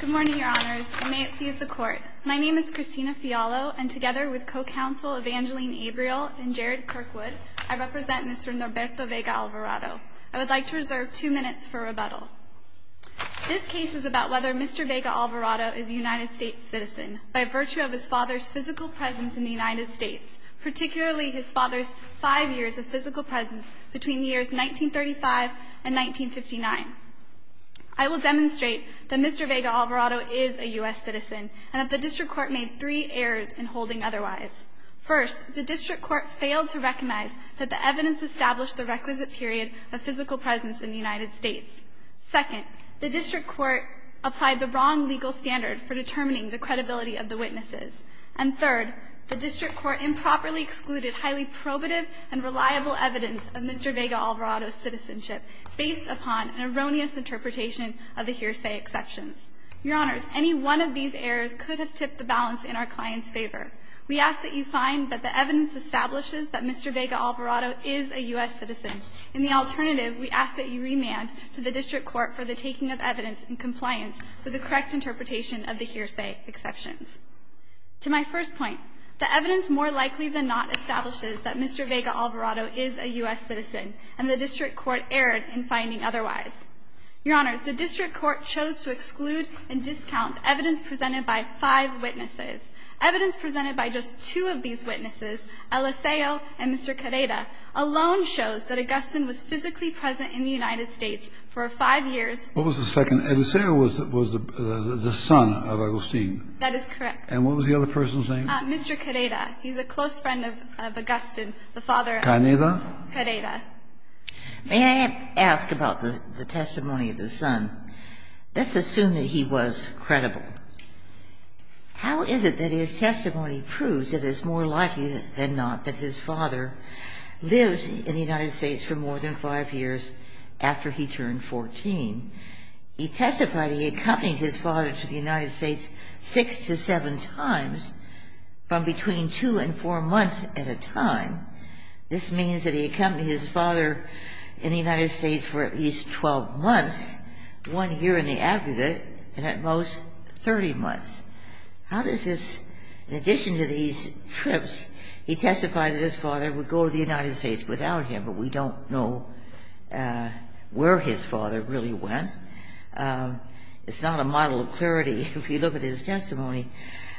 Good morning, Your Honors, and may it please the Court. My name is Christina Fialo, and together with Co-Counsel Evangeline Averill and Jared Kirkwood, I represent Mr. Norberto Vega-Alvarado. I would like to reserve two minutes for rebuttal. This case is about whether Mr. Vega-Alvarado is a United States citizen by virtue of his father's physical presence in the United States, particularly his father's five years of physical presence between the years 1935 and 1959. I will demonstrate that Mr. Vega-Alvarado is a U.S. citizen and that the district court made three errors in holding otherwise. First, the district court failed to recognize that the evidence established the requisite period of physical presence in the United States. Second, the district court applied the wrong legal standard for determining the credibility of the witnesses. And third, the district court improperly excluded highly probative and reliable evidence of Mr. Vega-Alvarado's citizenship based upon an erroneous interpretation of the hearsay exceptions. Your Honors, any one of these errors could have tipped the balance in our client's favor. We ask that you find that the evidence establishes that Mr. Vega-Alvarado is a U.S. citizen. In the alternative, we ask that you remand to the district court for the taking of evidence in compliance with the correct interpretation of the hearsay exceptions. To my first point, the evidence more likely than not establishes that Mr. Vega-Alvarado is a U.S. citizen and the district court erred in finding otherwise. Your Honors, the district court chose to exclude and discount evidence presented by five witnesses. Evidence presented by just two of these witnesses, Eliseo and Mr. Carrera, alone shows that Augustin was physically present in the United States for five years. What was the second? Eliseo was the son of Augustin. That is correct. And what was the other person's name? Mr. Carrera. He's a close friend of Augustin, the father of Carrera. Carrera? Carrera. May I ask about the testimony of the son? Let's assume that he was credible. How is it that his testimony proves it is more likely than not that his father lived in the United States for more than five years after he turned 14? He testified he accompanied his father to the United States six to seven times from between two and four months at a time. This means that he accompanied his father in the United States for at least 12 months, one year in the aggregate, and at most 30 months. In addition to these trips, he testified that his father would go to the United States without him, but we don't know where his father really went. It's not a model of clarity if you look at his testimony.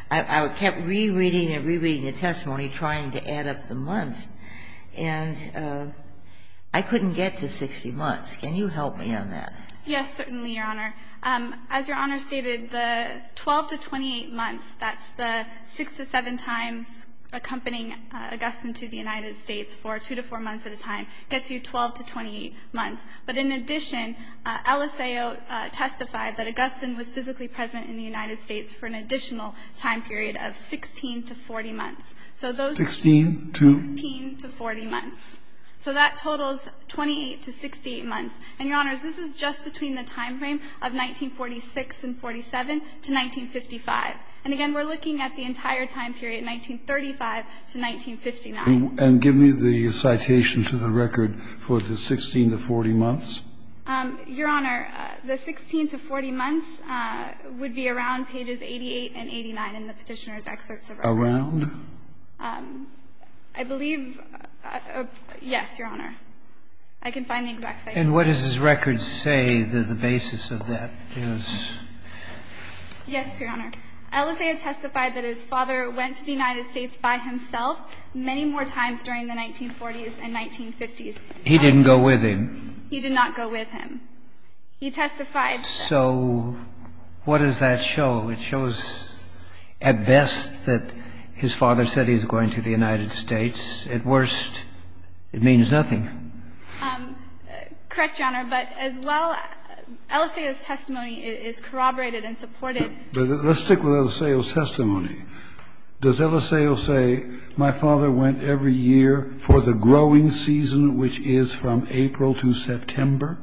I kept rereading and rereading the testimony, trying to add up the months, and I couldn't get to 60 months. Can you help me on that? Yes, certainly, Your Honor. As Your Honor stated, the 12 to 28 months, that's the six to seven times accompanying Augustine to the United States for two to four months at a time, gets you 12 to 28 months. But in addition, LSAO testified that Augustine was physically present in the United States for an additional time period of 16 to 40 months. So those 16 to 40 months. So that totals 28 to 68 months. And, Your Honors, this is just between the time frame of 1946 and 1947 to 1955. And again, we're looking at the entire time period, 1935 to 1959. And give me the citation to the record for the 16 to 40 months. Your Honor, the 16 to 40 months would be around pages 88 and 89 in the Petitioner's excerpts of our record. Around? I believe yes, Your Honor. I can find the exact citation. And what does his record say that the basis of that is? Yes, Your Honor. LSAO testified that his father went to the United States by himself many more times during the 1940s and 1950s. He didn't go with him. He did not go with him. He testified that. So what does that show? It shows, at best, that his father said he was going to the United States. At worst, it means nothing. Correct, Your Honor. But as well, LSAO's testimony is corroborated and supported. Let's stick with LSAO's testimony. Does LSAO say, my father went every year for the growing season, which is from April to September?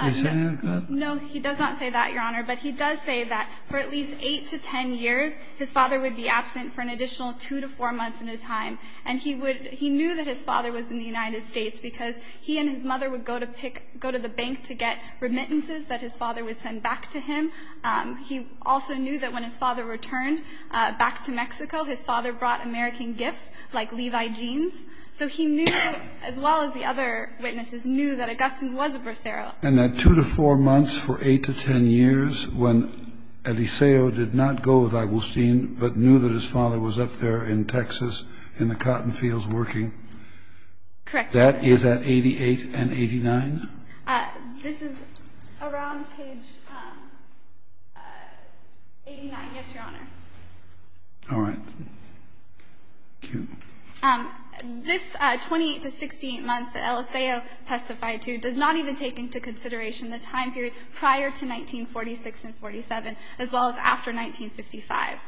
Is he saying that? No, he does not say that, Your Honor. But he does say that for at least 8 to 10 years, his father would be absent for an additional 2 to 4 months at a time. And he knew that his father was in the United States because he and his mother would go to the bank to get remittances that his father would send back to him. He also knew that when his father returned back to Mexico, his father brought American gifts like Levi jeans. So he knew, as well as the other witnesses, knew that Augustine was a Bracero. And that 2 to 4 months for 8 to 10 years, when LSAO did not go with Augustine but knew that his father was up there in Texas in the cotton fields working. Correct. That is at 88 and 89? This is around page 89, yes, Your Honor. All right. Thank you. This 28 to 68 month that LSAO testified to does not even take into consideration the time period prior to 1946 and 47, as well as after 1955.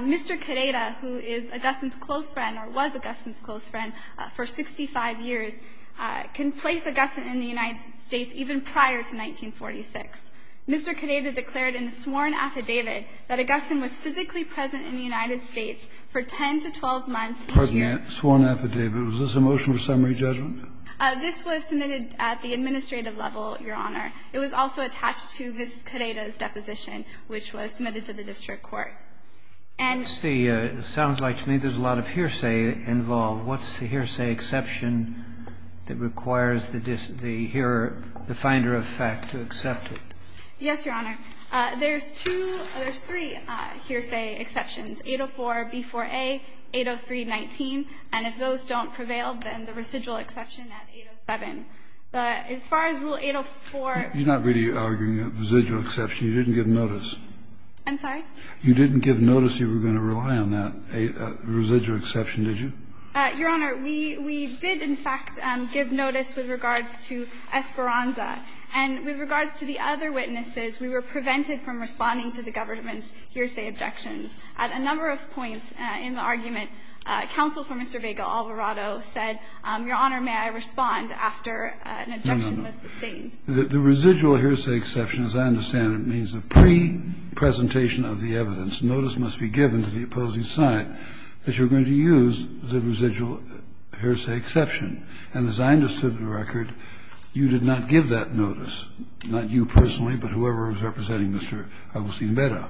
Mr. Queda, who is Augustine's close friend or was Augustine's close friend for 65 years, can place Augustine in the United States even prior to 1946. Mr. Queda declared in a sworn affidavit that Augustine was physically present in the United States for 10 to 12 months each year. Pardon me. A sworn affidavit. Was this a motion for summary judgment? This was submitted at the administrative level, Your Honor. It was also attached to Ms. Queda's deposition, which was submitted to the district court. And the It sounds like to me there's a lot of hearsay involved. What's the hearsay exception that requires the finder of fact to accept it? Yes, Your Honor. There's two or there's three hearsay exceptions, 804B4A, 80319. And if those don't prevail, then the residual exception at 807. But as far as Rule 804 You're not really arguing a residual exception. You didn't give notice. I'm sorry? You didn't give notice you were going to rely on that. A residual exception, did you? Your Honor, we did in fact give notice with regards to Esperanza. And with regards to the other witnesses, we were prevented from responding to the government's hearsay objections. At a number of points in the argument, counsel for Mr. Vega-Alvarado said, Your Honor, may I respond after an objection was sustained. The residual hearsay exception, as I understand it, means a pre-presentation of the evidence. Notice must be given to the opposing side that you're going to use the residual hearsay exception. And as I understood the record, you did not give that notice. Not you personally, but whoever was representing Mr. Alvarado.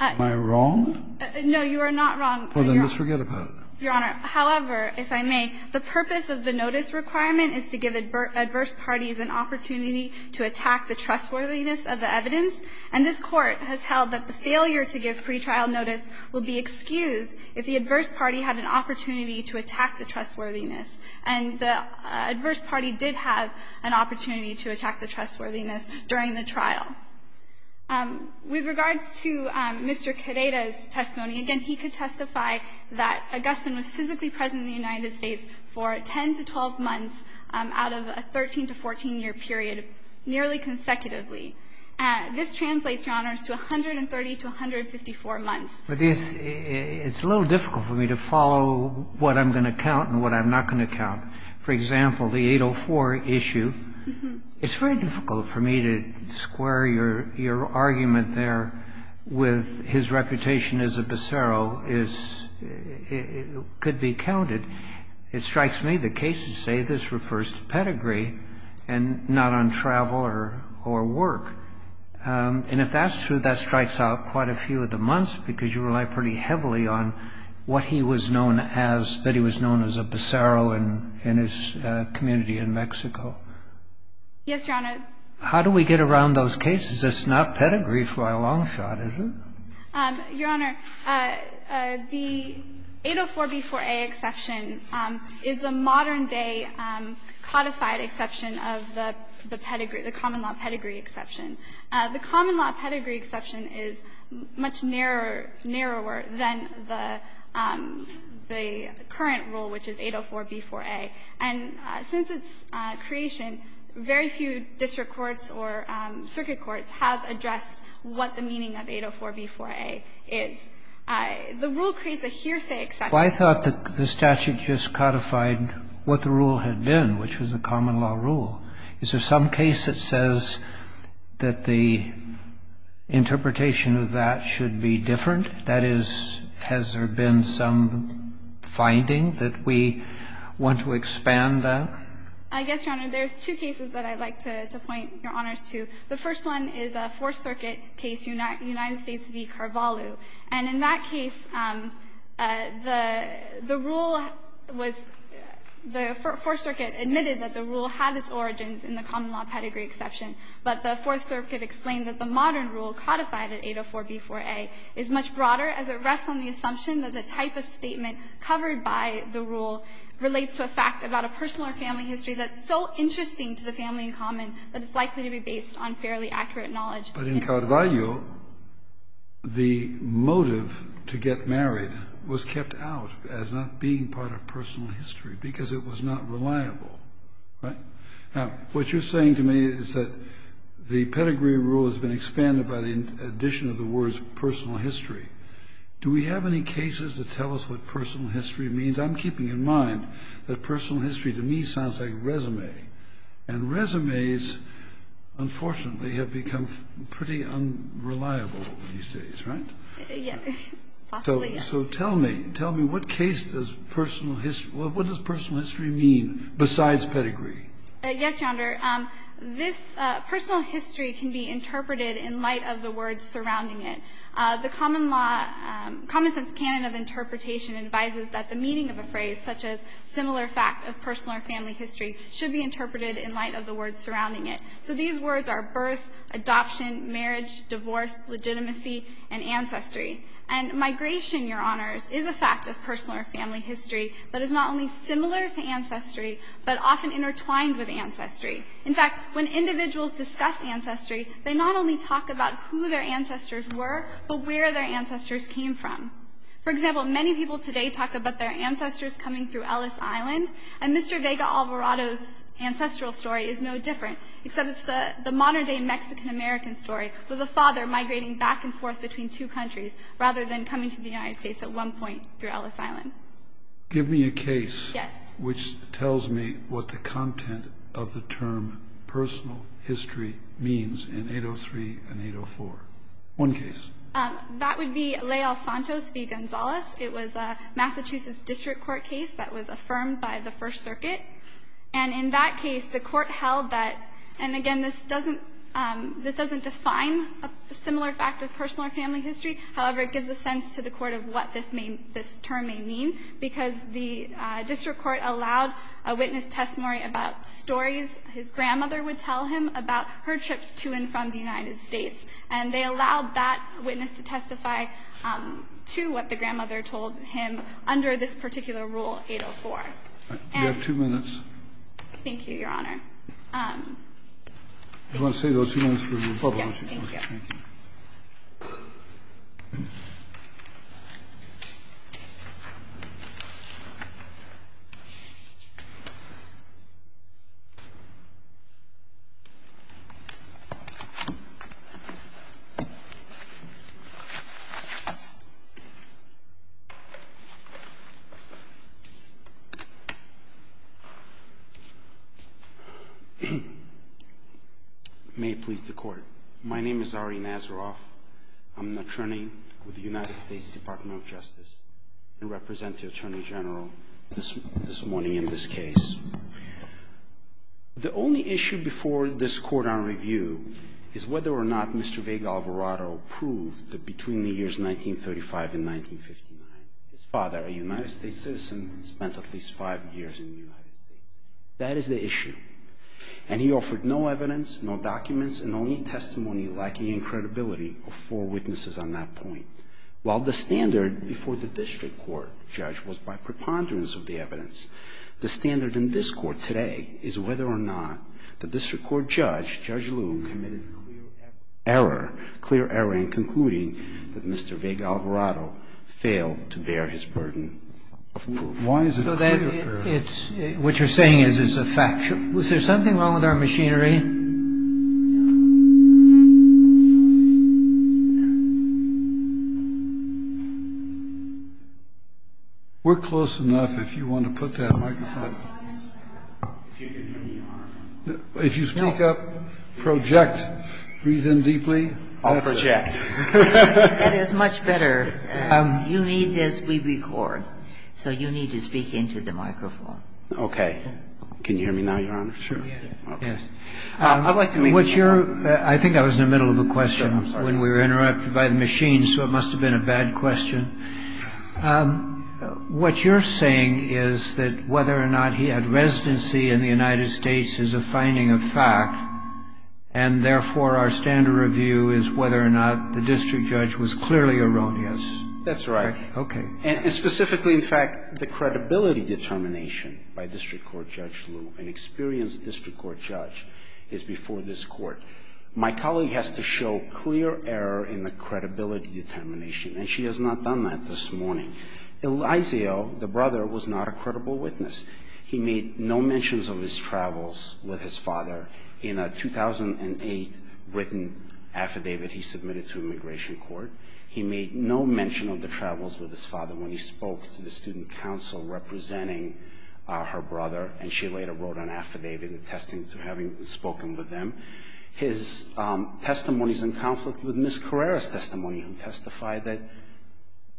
Am I wrong? No, you are not wrong. Well, then let's forget about it. Your Honor, however, if I may, the purpose of the notice requirement is to give adverse parties an opportunity to attack the trustworthiness of the evidence. And this Court has held that the failure to give pretrial notice will be excused if the adverse party had an opportunity to attack the trustworthiness. And the adverse party did have an opportunity to attack the trustworthiness during the trial. With regards to Mr. Queda's testimony, again, he could testify that Augustin was physically present in the United States for 10 to 12 months out of a 13 to 14-year period nearly consecutively. This translates, Your Honor, to 130 to 154 months. But it's a little difficult for me to follow what I'm going to count and what I'm not going to count. For example, the 804 issue, it's very difficult for me to square your argument there with his reputation as a becero could be counted. It strikes me that cases say this refers to pedigree and not on travel or work. And if that's true, that strikes out quite a few of the months because you rely pretty heavily on what he was known as, that he was known as a becero in his community in Mexico. Yes, Your Honor. How do we get around those cases? It's not pedigree for a long shot, is it? Your Honor, the 804b4a exception is a modern-day codified exception of the pedigree the common law pedigree exception. The common law pedigree exception is much narrower than the current rule, which is 804b4a. And since its creation, very few district courts or circuit courts have addressed what the meaning of 804b4a is. The rule creates a hearsay exception. Well, I thought that the statute just codified what the rule had been, which was the common law rule. Is there some case that says that the interpretation of that should be different? That is, has there been some finding that we want to expand that? I guess, Your Honor, there's two cases that I'd like to point Your Honors to. The first one is a Fourth Circuit case, United States v. Carvalho. And in that case, the rule was the Fourth Circuit admitted that the rule had its origins in the common law pedigree exception, but the Fourth Circuit explained that the modern rule codified at 804b4a is much broader as it rests on the assumption that the type of statement covered by the rule relates to a fact about a personal or family history that's so interesting to the family in common that it's likely to be based on fairly accurate knowledge. But in Carvalho, the motive to get married was kept out as not being part of personal history because it was not reliable, right? Now, what you're saying to me is that the pedigree rule has been expanded by the addition of the words personal history. Do we have any cases that tell us what personal history means? I'm keeping in mind that personal history to me sounds like a resume. And resumes, unfortunately, have become pretty unreliable these days, right? Yes. Possibly, yes. So tell me, tell me, what case does personal history, what does personal history mean besides pedigree? Yes, Your Honor. This personal history can be interpreted in light of the words surrounding it. The common law, common sense canon of interpretation advises that the meaning of a phrase such as similar fact of personal or family history should be interpreted in light of the words surrounding it. So these words are birth, adoption, marriage, divorce, legitimacy, and ancestry. And migration, Your Honors, is a fact of personal or family history that is not only similar to ancestry but often intertwined with ancestry. In fact, when individuals discuss ancestry, they not only talk about who their ancestors were but where their ancestors came from. For example, many people today talk about their ancestors coming through Ellis Island, and Mr. Vega Alvarado's ancestral story is no different except it's the modern-day Mexican-American story with a father migrating back and forth between two countries rather than coming to the United States at one point through Ellis Island. Give me a case which tells me what the content of the term personal history means in 803 and 804. One case. That would be Leal-Santos v. Gonzales. It was a Massachusetts district court case that was affirmed by the First Circuit. And in that case, the court held that, and again, this doesn't define a similar fact of personal or family history. However, it gives a sense to the court of what this term may mean, because the district court allowed a witness testimony about stories his grandmother would tell him about her trips to and from the United States, and they allowed that witness to testify to what the grandmother told him under this particular Rule 804. And we have two minutes. Thank you, Your Honor. I want to save those two minutes for the Republicans. Yes. Okay. May it please the Court. My name is Ari Nazaroff. I'm an attorney with the United States Department of Justice and represent the Attorney General this morning in this case. The only issue before this court on review is whether or not Mr. Vega Alvarado proved that between the years 1935 and 1959, his father, a United States citizen, spent at least five years in the United States. That is the issue. And he offered no evidence, no documents, and only testimony lacking in credibility of four witnesses on that point. While the standard before the district court, Judge, was by preponderance of the evidence, the standard in this Court today is whether or not the district court judge, Judge Loom, committed a clear error, clear error in concluding that Mr. Vega Alvarado failed to bear his burden of proof. Why is it a clear error? What you're saying is it's a fact. Was there something wrong with our machinery? We're close enough if you want to put that microphone. If you speak up, project, breathe in deeply. I'll project. That is much better. You need this, we record. So you need to speak into the microphone. Okay. Can you hear me now, Your Honor? Sure. Yes. I'd like to make a point. I think I was in the middle of a question when we were interrupted by the machine, so it must have been a bad question. What you're saying is that whether or not he had residency in the United States is a finding of fact, and therefore, our standard review is whether or not the district judge was clearly erroneous. That's right. Okay. And specifically, in fact, the credibility determination by district court judge Liu, an experienced district court judge, is before this Court. My colleague has to show clear error in the credibility determination, and she has not done that this morning. Eliseo, the brother, was not a credible witness. He made no mentions of his travels with his father. In a 2008 written affidavit he submitted to immigration court, he made no mention of the travels with his father when he spoke to the student council representing her brother, and she later wrote an affidavit attesting to having spoken with him. His testimony is in conflict with Ms. Carrera's testimony, who testified that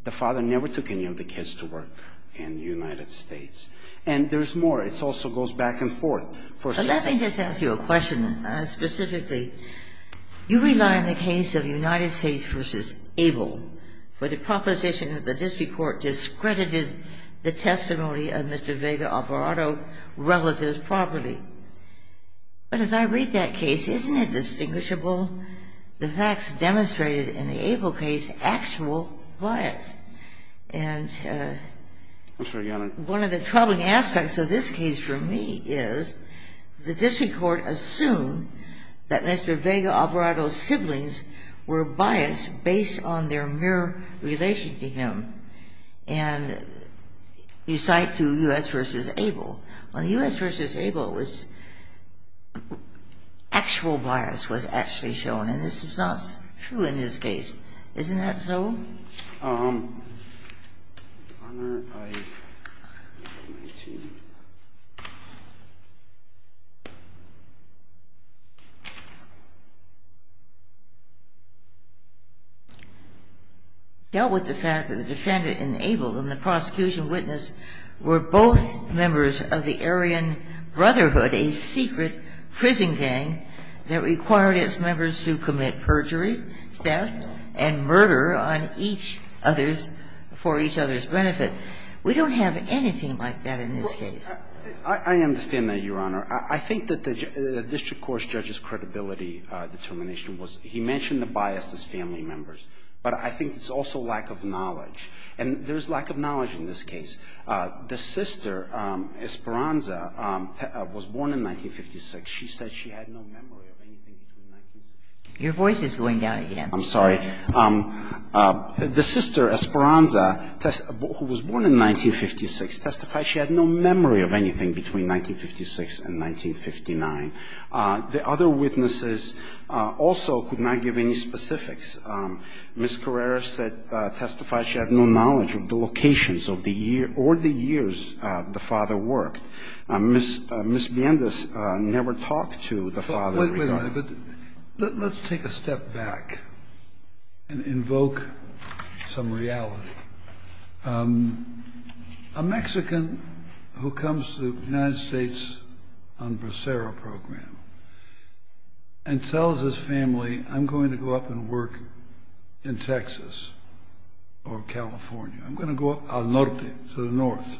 the father never took any of the kids to work in the United States. And there's more. It also goes back and forth. Let me just ask you a question specifically. You rely on the case of United States v. Able for the proposition that the district court discredited the testimony of Mr. Vega Alvarado's relatives properly. But as I read that case, isn't it distinguishable the facts demonstrated in the Able case actual bias? And one of the troubling aspects of this case for me is the district court assumed that Mr. Vega Alvarado's siblings were biased based on their mere relation to him. And you cite U.S. v. Able. On U.S. v. Able, actual bias was actually shown. And this is not true in this case. Isn't that so? The honor I have for my team. Dealt with the fact that the defendant in Able and the prosecution witness were both members of the Aryan Brotherhood, a secret prison gang that required its members to commit perjury, theft, and murder on each other's, for each other's benefit. We don't have anything like that in this case. I understand that, Your Honor. I think that the district court's judge's credibility determination was he mentioned the bias as family members, but I think it's also lack of knowledge. And there's lack of knowledge in this case. The sister, Esperanza, was born in 1956. She said she had no memory of anything between 1956. Your voice is going down again. I'm sorry. The sister, Esperanza, who was born in 1956, testified she had no memory of anything between 1956 and 1959. The other witnesses also could not give any specifics. Ms. Carreras testified she had no knowledge of the locations or the years the father worked. Ms. Miendez never talked to the father. Wait a minute. Let's take a step back and invoke some reality. A Mexican who comes to the United States on the Bracero Program and tells his family, I'm going to go up and work in Texas or California. I'm going to go up al norte, to the north.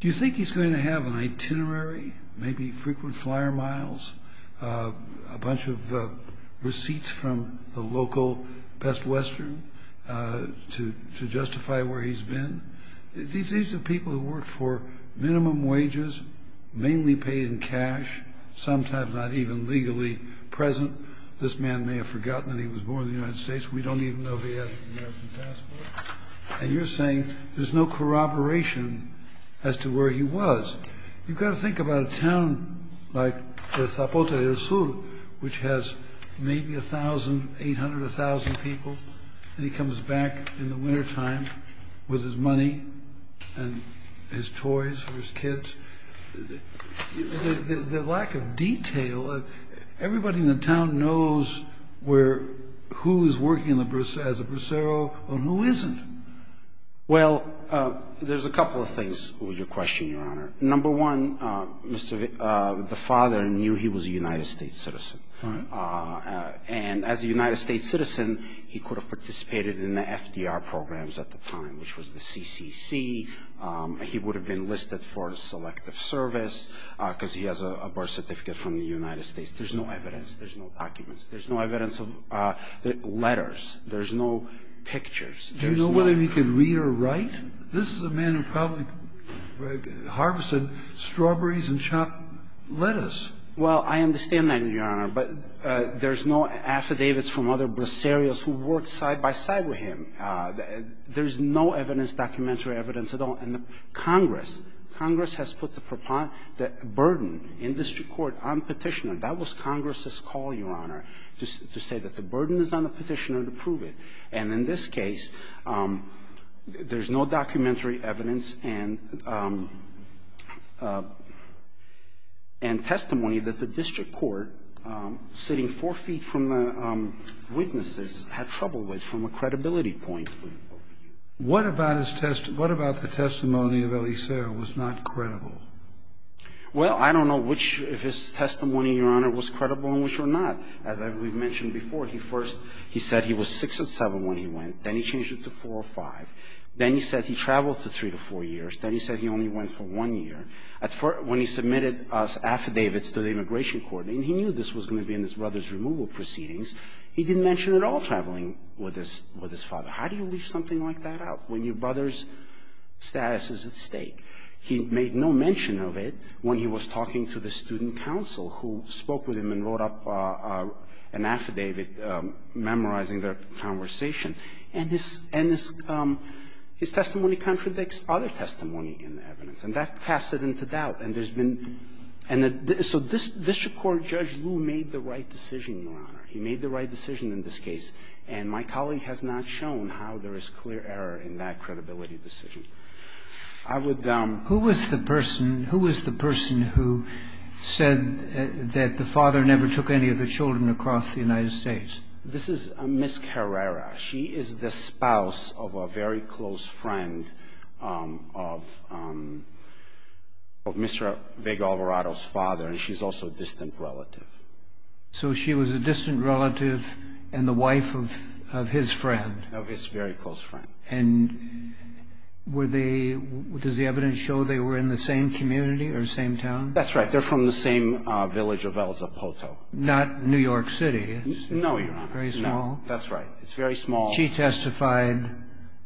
Do you think he's going to have an itinerary, maybe frequent flyer miles, a bunch of receipts from the local Best Western to justify where he's been? These are people who work for minimum wages, mainly paid in cash, sometimes not even legally present. This man may have forgotten that he was born in the United States. We don't even know if he has an American passport. And you're saying there's no corroboration as to where he was. You've got to think about a town like Zapote del Sur, which has maybe 1,000, 800, 1,000 people, and he comes back in the wintertime with his money and his toys for his kids. The lack of detail. Everybody in the town knows who is working as a Bracero and who isn't. Well, there's a couple of things with your question, Your Honor. Number one, the father knew he was a United States citizen. And as a United States citizen, he could have participated in the FDR programs at the time, which was the CCC. He would have been listed for a selective service because he has a birth certificate from the United States. There's no evidence. There's no documents. There's no evidence of letters. There's no pictures. Do you know whether he could read or write? This is a man who probably harvested strawberries and chopped lettuce. Well, I understand that, Your Honor, but there's no affidavits from other Braceros There's no evidence, documentary evidence at all. And the Congress, Congress has put the burden in district court on Petitioner. That was Congress's call, Your Honor, to say that the burden is on the Petitioner to prove it. And in this case, there's no documentary evidence and testimony that the district court, sitting four feet from the witnesses, had trouble with from a credibility point. What about his testimony? What about the testimony of Elisera was not credible? Well, I don't know which of his testimony, Your Honor, was credible and which were not. As we've mentioned before, he first he said he was 6 and 7 when he went. Then he changed it to 4 or 5. Then he said he traveled for three to four years. Then he said he only went for one year. When he submitted his affidavits to the immigration court, and he knew this was going to be in his brother's removal proceedings, he didn't mention at all traveling with his father. How do you leave something like that out when your brother's status is at stake? He made no mention of it when he was talking to the student council, who spoke with him and wrote up an affidavit memorizing their conversation. And his testimony contradicts other testimony in the evidence. And that casts it into doubt. And there's been – and so this district court, Judge Lew, made the right decision, Your Honor. He made the right decision in this case. And my colleague has not shown how there is clear error in that credibility decision. I would – Who was the person – who was the person who said that the father never took any of the children across the United States? This is Ms. Carrera. She is the spouse of a very close friend of Mr. Vega Alvarado's father, and she's also a distant relative. So she was a distant relative and the wife of his friend. Of his very close friend. And were they – does the evidence show they were in the same community or same town? That's right. They're from the same village of El Zapoto. Not New York City. No, Your Honor. It's very small. No, that's right. It's very small. She testified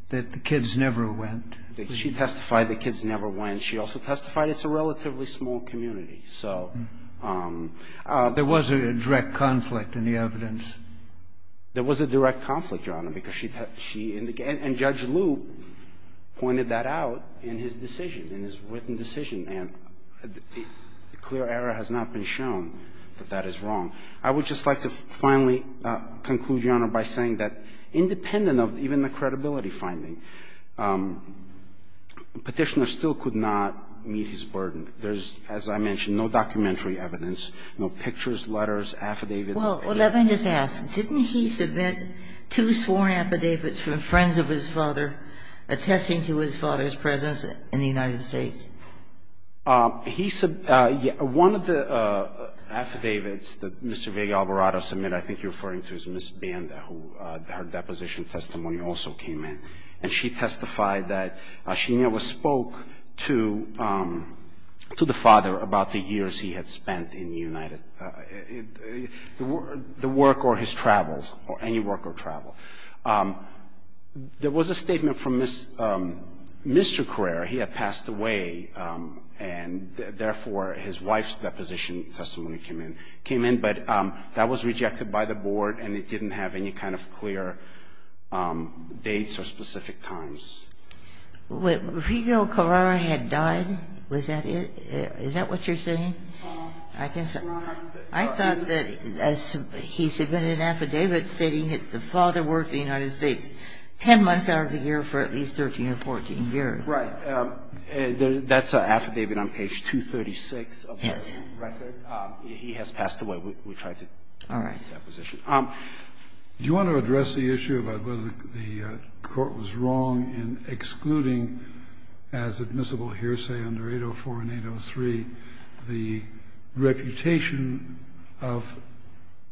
that the kids never went. She testified the kids never went. She also testified it's a relatively small community. So – There was a direct conflict in the evidence. There was a direct conflict, Your Honor, because she – and Judge Liu pointed that out in his decision, in his written decision. And the clear error has not been shown that that is wrong. I would just like to finally conclude, Your Honor, by saying that independent of even the credibility finding, Petitioner still could not meet his burden. There's, as I mentioned, no documentary evidence, no pictures, letters, affidavits. Well, let me just ask. Didn't he submit two sworn affidavits from friends of his father, attesting to his father's presence in the United States? He – one of the affidavits that Mr. Vega-Alvarado submitted, I think you're referring to, is Ms. Banda, who her deposition testimony also came in. And she testified that Shinyawa spoke to the father about the years he had spent in the United – the work or his travels, or any work or travel. There was a statement from Mr. Carrera. He had passed away, and therefore his wife's deposition testimony came in. It came in, but that was rejected by the board, and it didn't have any kind of clear dates or specific times. But Rego Carrera had died? Was that it? Is that what you're saying? I can't say. I thought that, as he submitted an affidavit stating that the father worked in the United States 10 months out of the year for at least 13 or 14 years. Right. That's an affidavit on page 236 of the record. Yes. He has passed away. We tried to get that position. All right. Do you want to address the issue about whether the court was wrong in excluding, as admissible here, say, under 804 and 803, the reputation of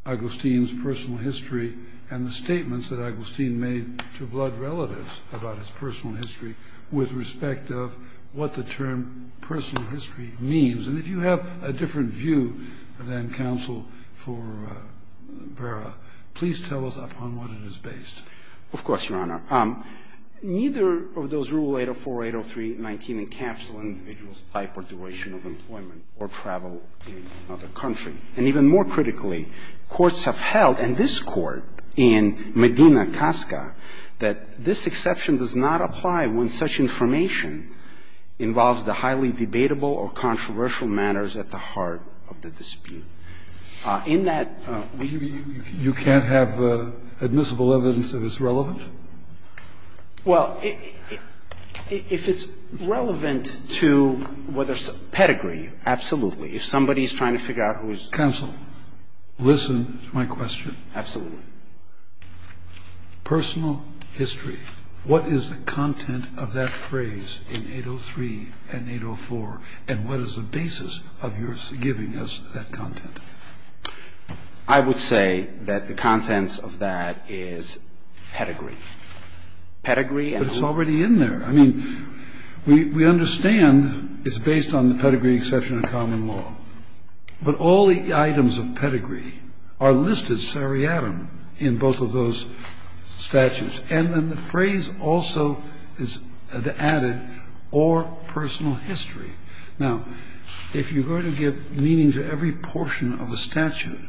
Agostin's personal history and the statements that Agostin made to blood relatives about his personal history with respect of what the term personal history means? And if you have a different view than counsel for Berra, please tell us upon what it is based. Of course, Your Honor. Neither of those rules, 804, 803, 19, encapsulate an individual's type or duration of employment or travel in another country. And even more critically, courts have held, and this Court in Medina, Casca, that this exception does not apply when such information involves the highly debatable or controversial matters at the heart of the dispute. In that view you can't have admissible evidence that it's relevant? Well, if it's relevant to what is pedigree, absolutely. If somebody is trying to figure out who is. Counsel, listen to my question. Absolutely. Personal history. What is the content of that phrase in 803 and 804, and what is the basis of your giving us that content? I would say that the contents of that is pedigree. Pedigree and law. But it's already in there. I mean, we understand it's based on the pedigree exception of common law. But all the items of pedigree are listed seriatim in both of those statutes. And then the phrase also is added, or personal history. Now, if you're going to give meaning to every portion of a statute,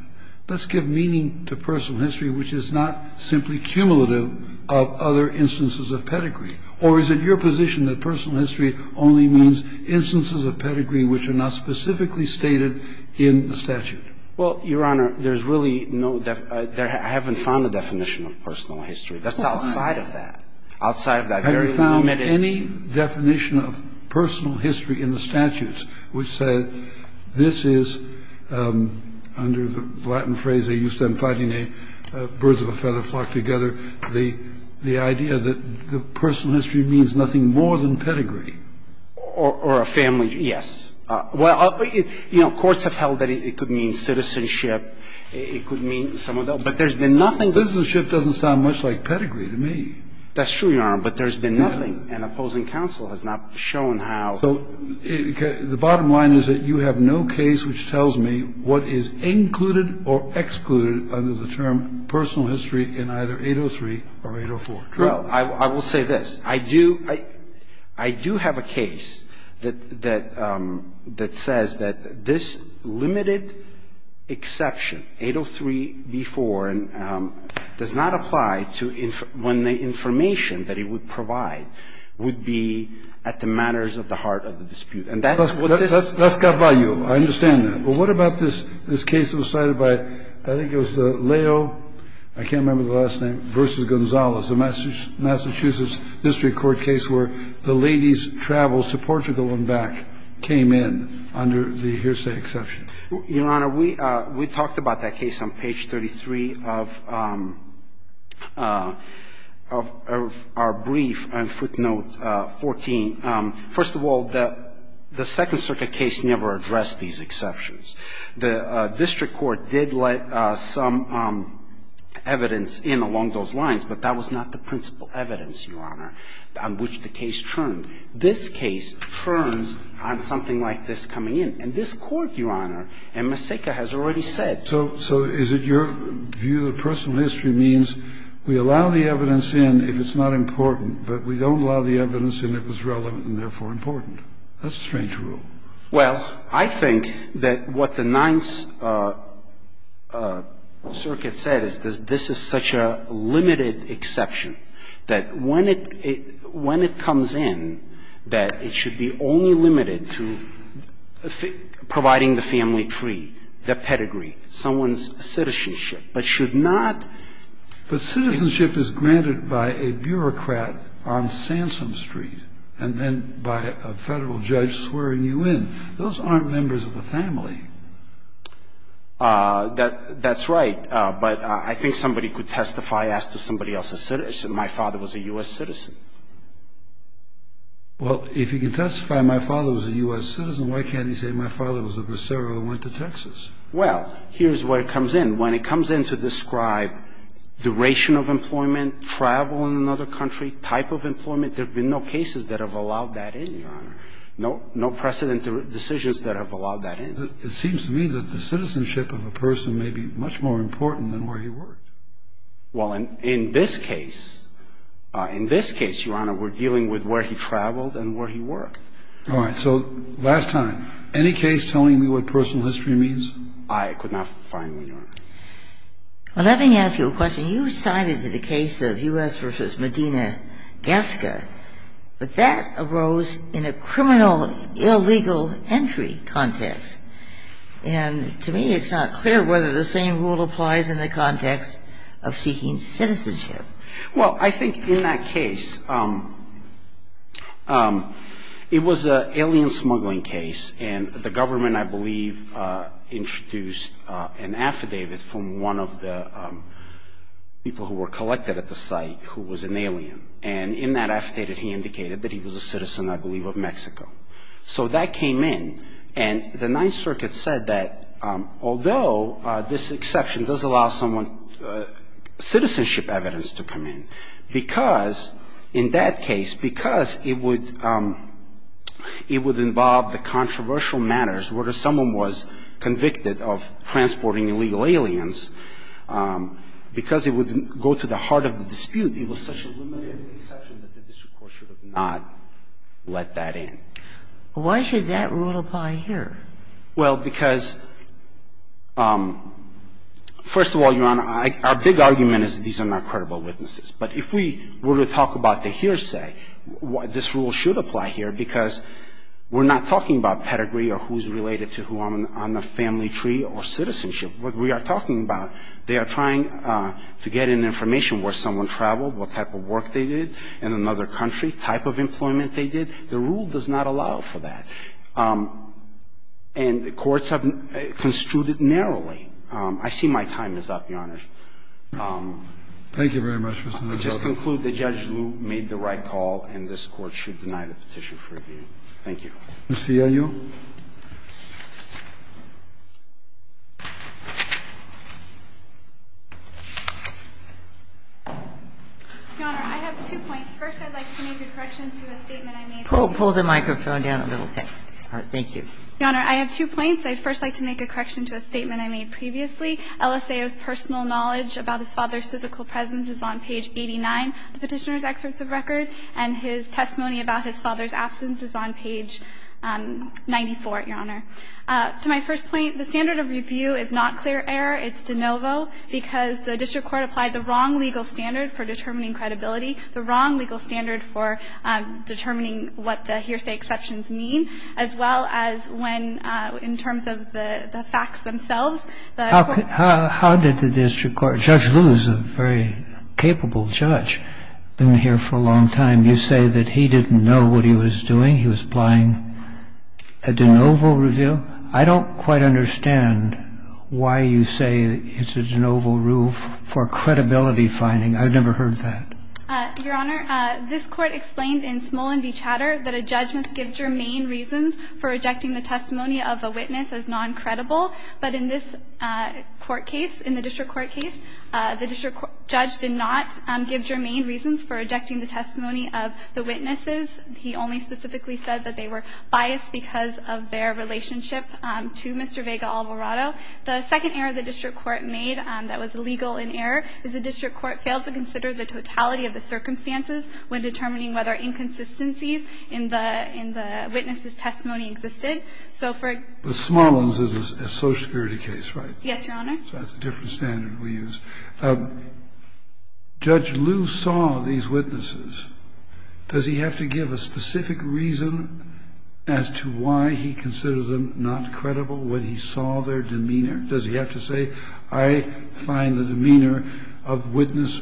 let's give meaning to personal history which is not simply cumulative of other instances of pedigree. Or is it your position that personal history only means instances of pedigree which are not specifically stated in the statute? Well, Your Honor, there's really no definition. I haven't found a definition of personal history. That's outside of that. Outside of that very limited. Have you found any definition of personal history in the statutes which says this is, under the Latin phrase, they used them fighting a bird of a feather flock together, the idea that the personal history means nothing more than pedigree? Or a family. Yes. Well, you know, courts have held that it could mean citizenship. It could mean some of those. But there's been nothing. Citizenship doesn't sound much like pedigree to me. That's true, Your Honor. But there's been nothing. And opposing counsel has not shown how. So the bottom line is that you have no case which tells me what is included or excluded under the term personal history in either 803 or 804. True. I will say this. I do have a case that says that this limited exception, 803b-4, and I don't know if you've seen it, but 803b-4 does not apply to when the information that it would provide would be at the manners of the heart of the dispute. And that's what this is. That's got value. I understand that. But what about this case that was cited by, I think it was the Leo, I can't remember the last name, v. Gonzalez, a Massachusetts district court case where the ladies traveled to Portugal and back came in under the hearsay exception? Your Honor, we talked about that case on page 33 of our brief on footnote 14. First of all, the Second Circuit case never addressed these exceptions. The district court did let some evidence in along those lines, but that was not the case that was cited. It was the case that was cited. And this case turns on something like this coming in. And this Court, Your Honor, and Maseka has already said. So is it your view that personal history means we allow the evidence in if it's not important, but we don't allow the evidence in if it's relevant and therefore important? That's a strange rule. Well, I think that what the Ninth Circuit said is this is such a limited exception that when it comes in, that it should be only limited to providing the family tree, the pedigree, someone's citizenship, but should not be. But citizenship is granted by a bureaucrat on Sansom Street and then by a Federal judge swearing you in. Those aren't members of the family. That's right. But I think somebody could testify as to somebody else's citizenship. My father was a U.S. citizen. Well, if you can testify my father was a U.S. citizen, why can't he say my father was a Bracero and went to Texas? Well, here's where it comes in. When it comes in to describe duration of employment, travel in another country, type of employment, there have been no cases that have allowed that in, Your Honor. No precedent decisions that have allowed that in. It seems to me that the citizenship of a person may be much more important than where he worked. Well, in this case, in this case, Your Honor, we're dealing with where he traveled and where he worked. All right. So last time, any case telling me what personal history means? I could not find one, Your Honor. Well, let me ask you a question. You cited the case of U.S. versus Medina Gasca, but that arose in a criminal illegal entry context. And to me, it's not clear whether the same rule applies in the context of seeking citizenship. Well, I think in that case, it was an alien smuggling case, and the government, I believe, introduced an affidavit from one of the people who were collected at the site who was an alien. And in that affidavit, he indicated that he was a citizen, I believe, of Mexico. So that came in, and the Ninth Circuit said that although this exception does allow someone citizenship evidence to come in, because in that case, because it would involve the controversial matters where someone was convicted of transporting illegal aliens, because it would go to the heart of the dispute, it was such a limited exception that the district court should have not let that in. Why should that rule apply here? Well, because, first of all, Your Honor, our big argument is these are not credible We are not talking about pedigree or who's related to who on the family tree or citizenship. What we are talking about, they are trying to get in information where someone traveled, what type of work they did in another country, type of employment they did. The rule does not allow for that. And the courts have construed it narrowly. I see my time is up, Your Honor. Thank you very much. I just conclude that Judge Liu made the right call, and this Court should deny the petition for review. Thank you. Mr. Ayo? Your Honor, I have two points. First, I'd like to make a correction to a statement I made previously. Pull the microphone down a little bit. All right. Thank you. Your Honor, I have two points. I'd first like to make a correction to a statement I made previously. LSAO's personal knowledge about his father's physical presence is on page 89 of the Petitioner's Excerpt of Record, and his testimony about his father's absence is on page 94, Your Honor. To my first point, the standard of review is not clear error. It's de novo because the district court applied the wrong legal standard for determining credibility, the wrong legal standard for determining what the hearsay exceptions mean, as well as when, in terms of the facts themselves, the court ---- How did the district court ---- Judge Liu is a very capable judge. He's been here for a long time. You say that he didn't know what he was doing. He was applying a de novo review. I don't quite understand why you say it's a de novo rule for credibility finding. I've never heard that. Your Honor, this Court explained in Smolin v. Chatter that a judge must give germane reasons for rejecting the testimony of a witness as noncredible, but in this court case, in the district court case, the district judge did not give germane reasons for rejecting the testimony of the witnesses. He only specifically said that they were biased because of their relationship to Mr. Vega Alvarado. The second error the district court made that was legal in error is the district court failed to consider the totality of the circumstances when determining whether inconsistencies in the witnesses' testimony existed. So for ---- But Smolin's is a Social Security case, right? Yes, Your Honor. So that's a different standard we use. Judge Liu saw these witnesses. Does he have to give a specific reason as to why he considers them not credible when he saw their demeanor? Does he have to say, I find the demeanor of witness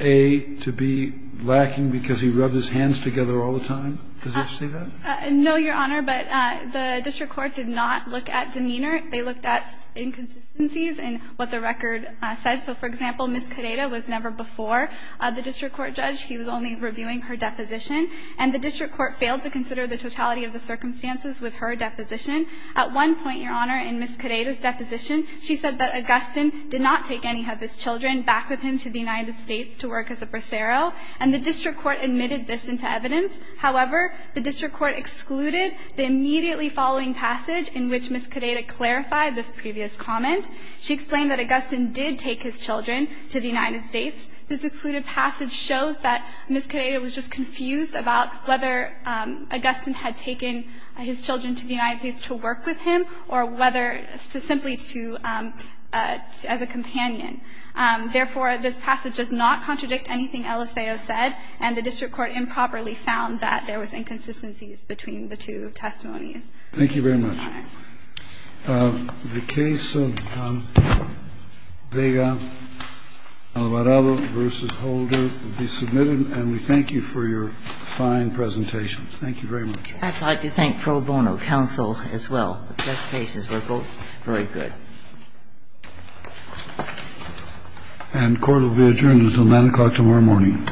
A to be lacking because he rubs his hands together all the time? Does he have to say that? No, Your Honor. But the district court did not look at demeanor. They looked at inconsistencies in what the record said. So, for example, Ms. Cadeda was never before the district court judge. He was only reviewing her deposition. And the district court failed to consider the totality of the circumstances with her deposition. At one point, Your Honor, in Ms. Cadeda's deposition, she said that Augustin did not take any of his children back with him to the United States to work as a bracero. And the district court admitted this into evidence. However, the district court excluded the immediately following passage in which Ms. Cadeda clarified this previous comment. She explained that Augustin did take his children to the United States. This excluded passage shows that Ms. Cadeda was just confused about whether Augustin had taken his children to the United States to work with him or whether to simply to as a companion. Therefore, this passage does not contradict anything LSAO said, and the district court improperly found that there was inconsistencies between the two testimonies. Thank you very much. Your Honor. The case of Vega-Alvarado v. Holder will be submitted. And we thank you for your fine presentation. Thank you very much. I'd like to thank pro bono counsel as well. The test cases were both very good. And court will be adjourned until 9 o'clock tomorrow morning. All rise.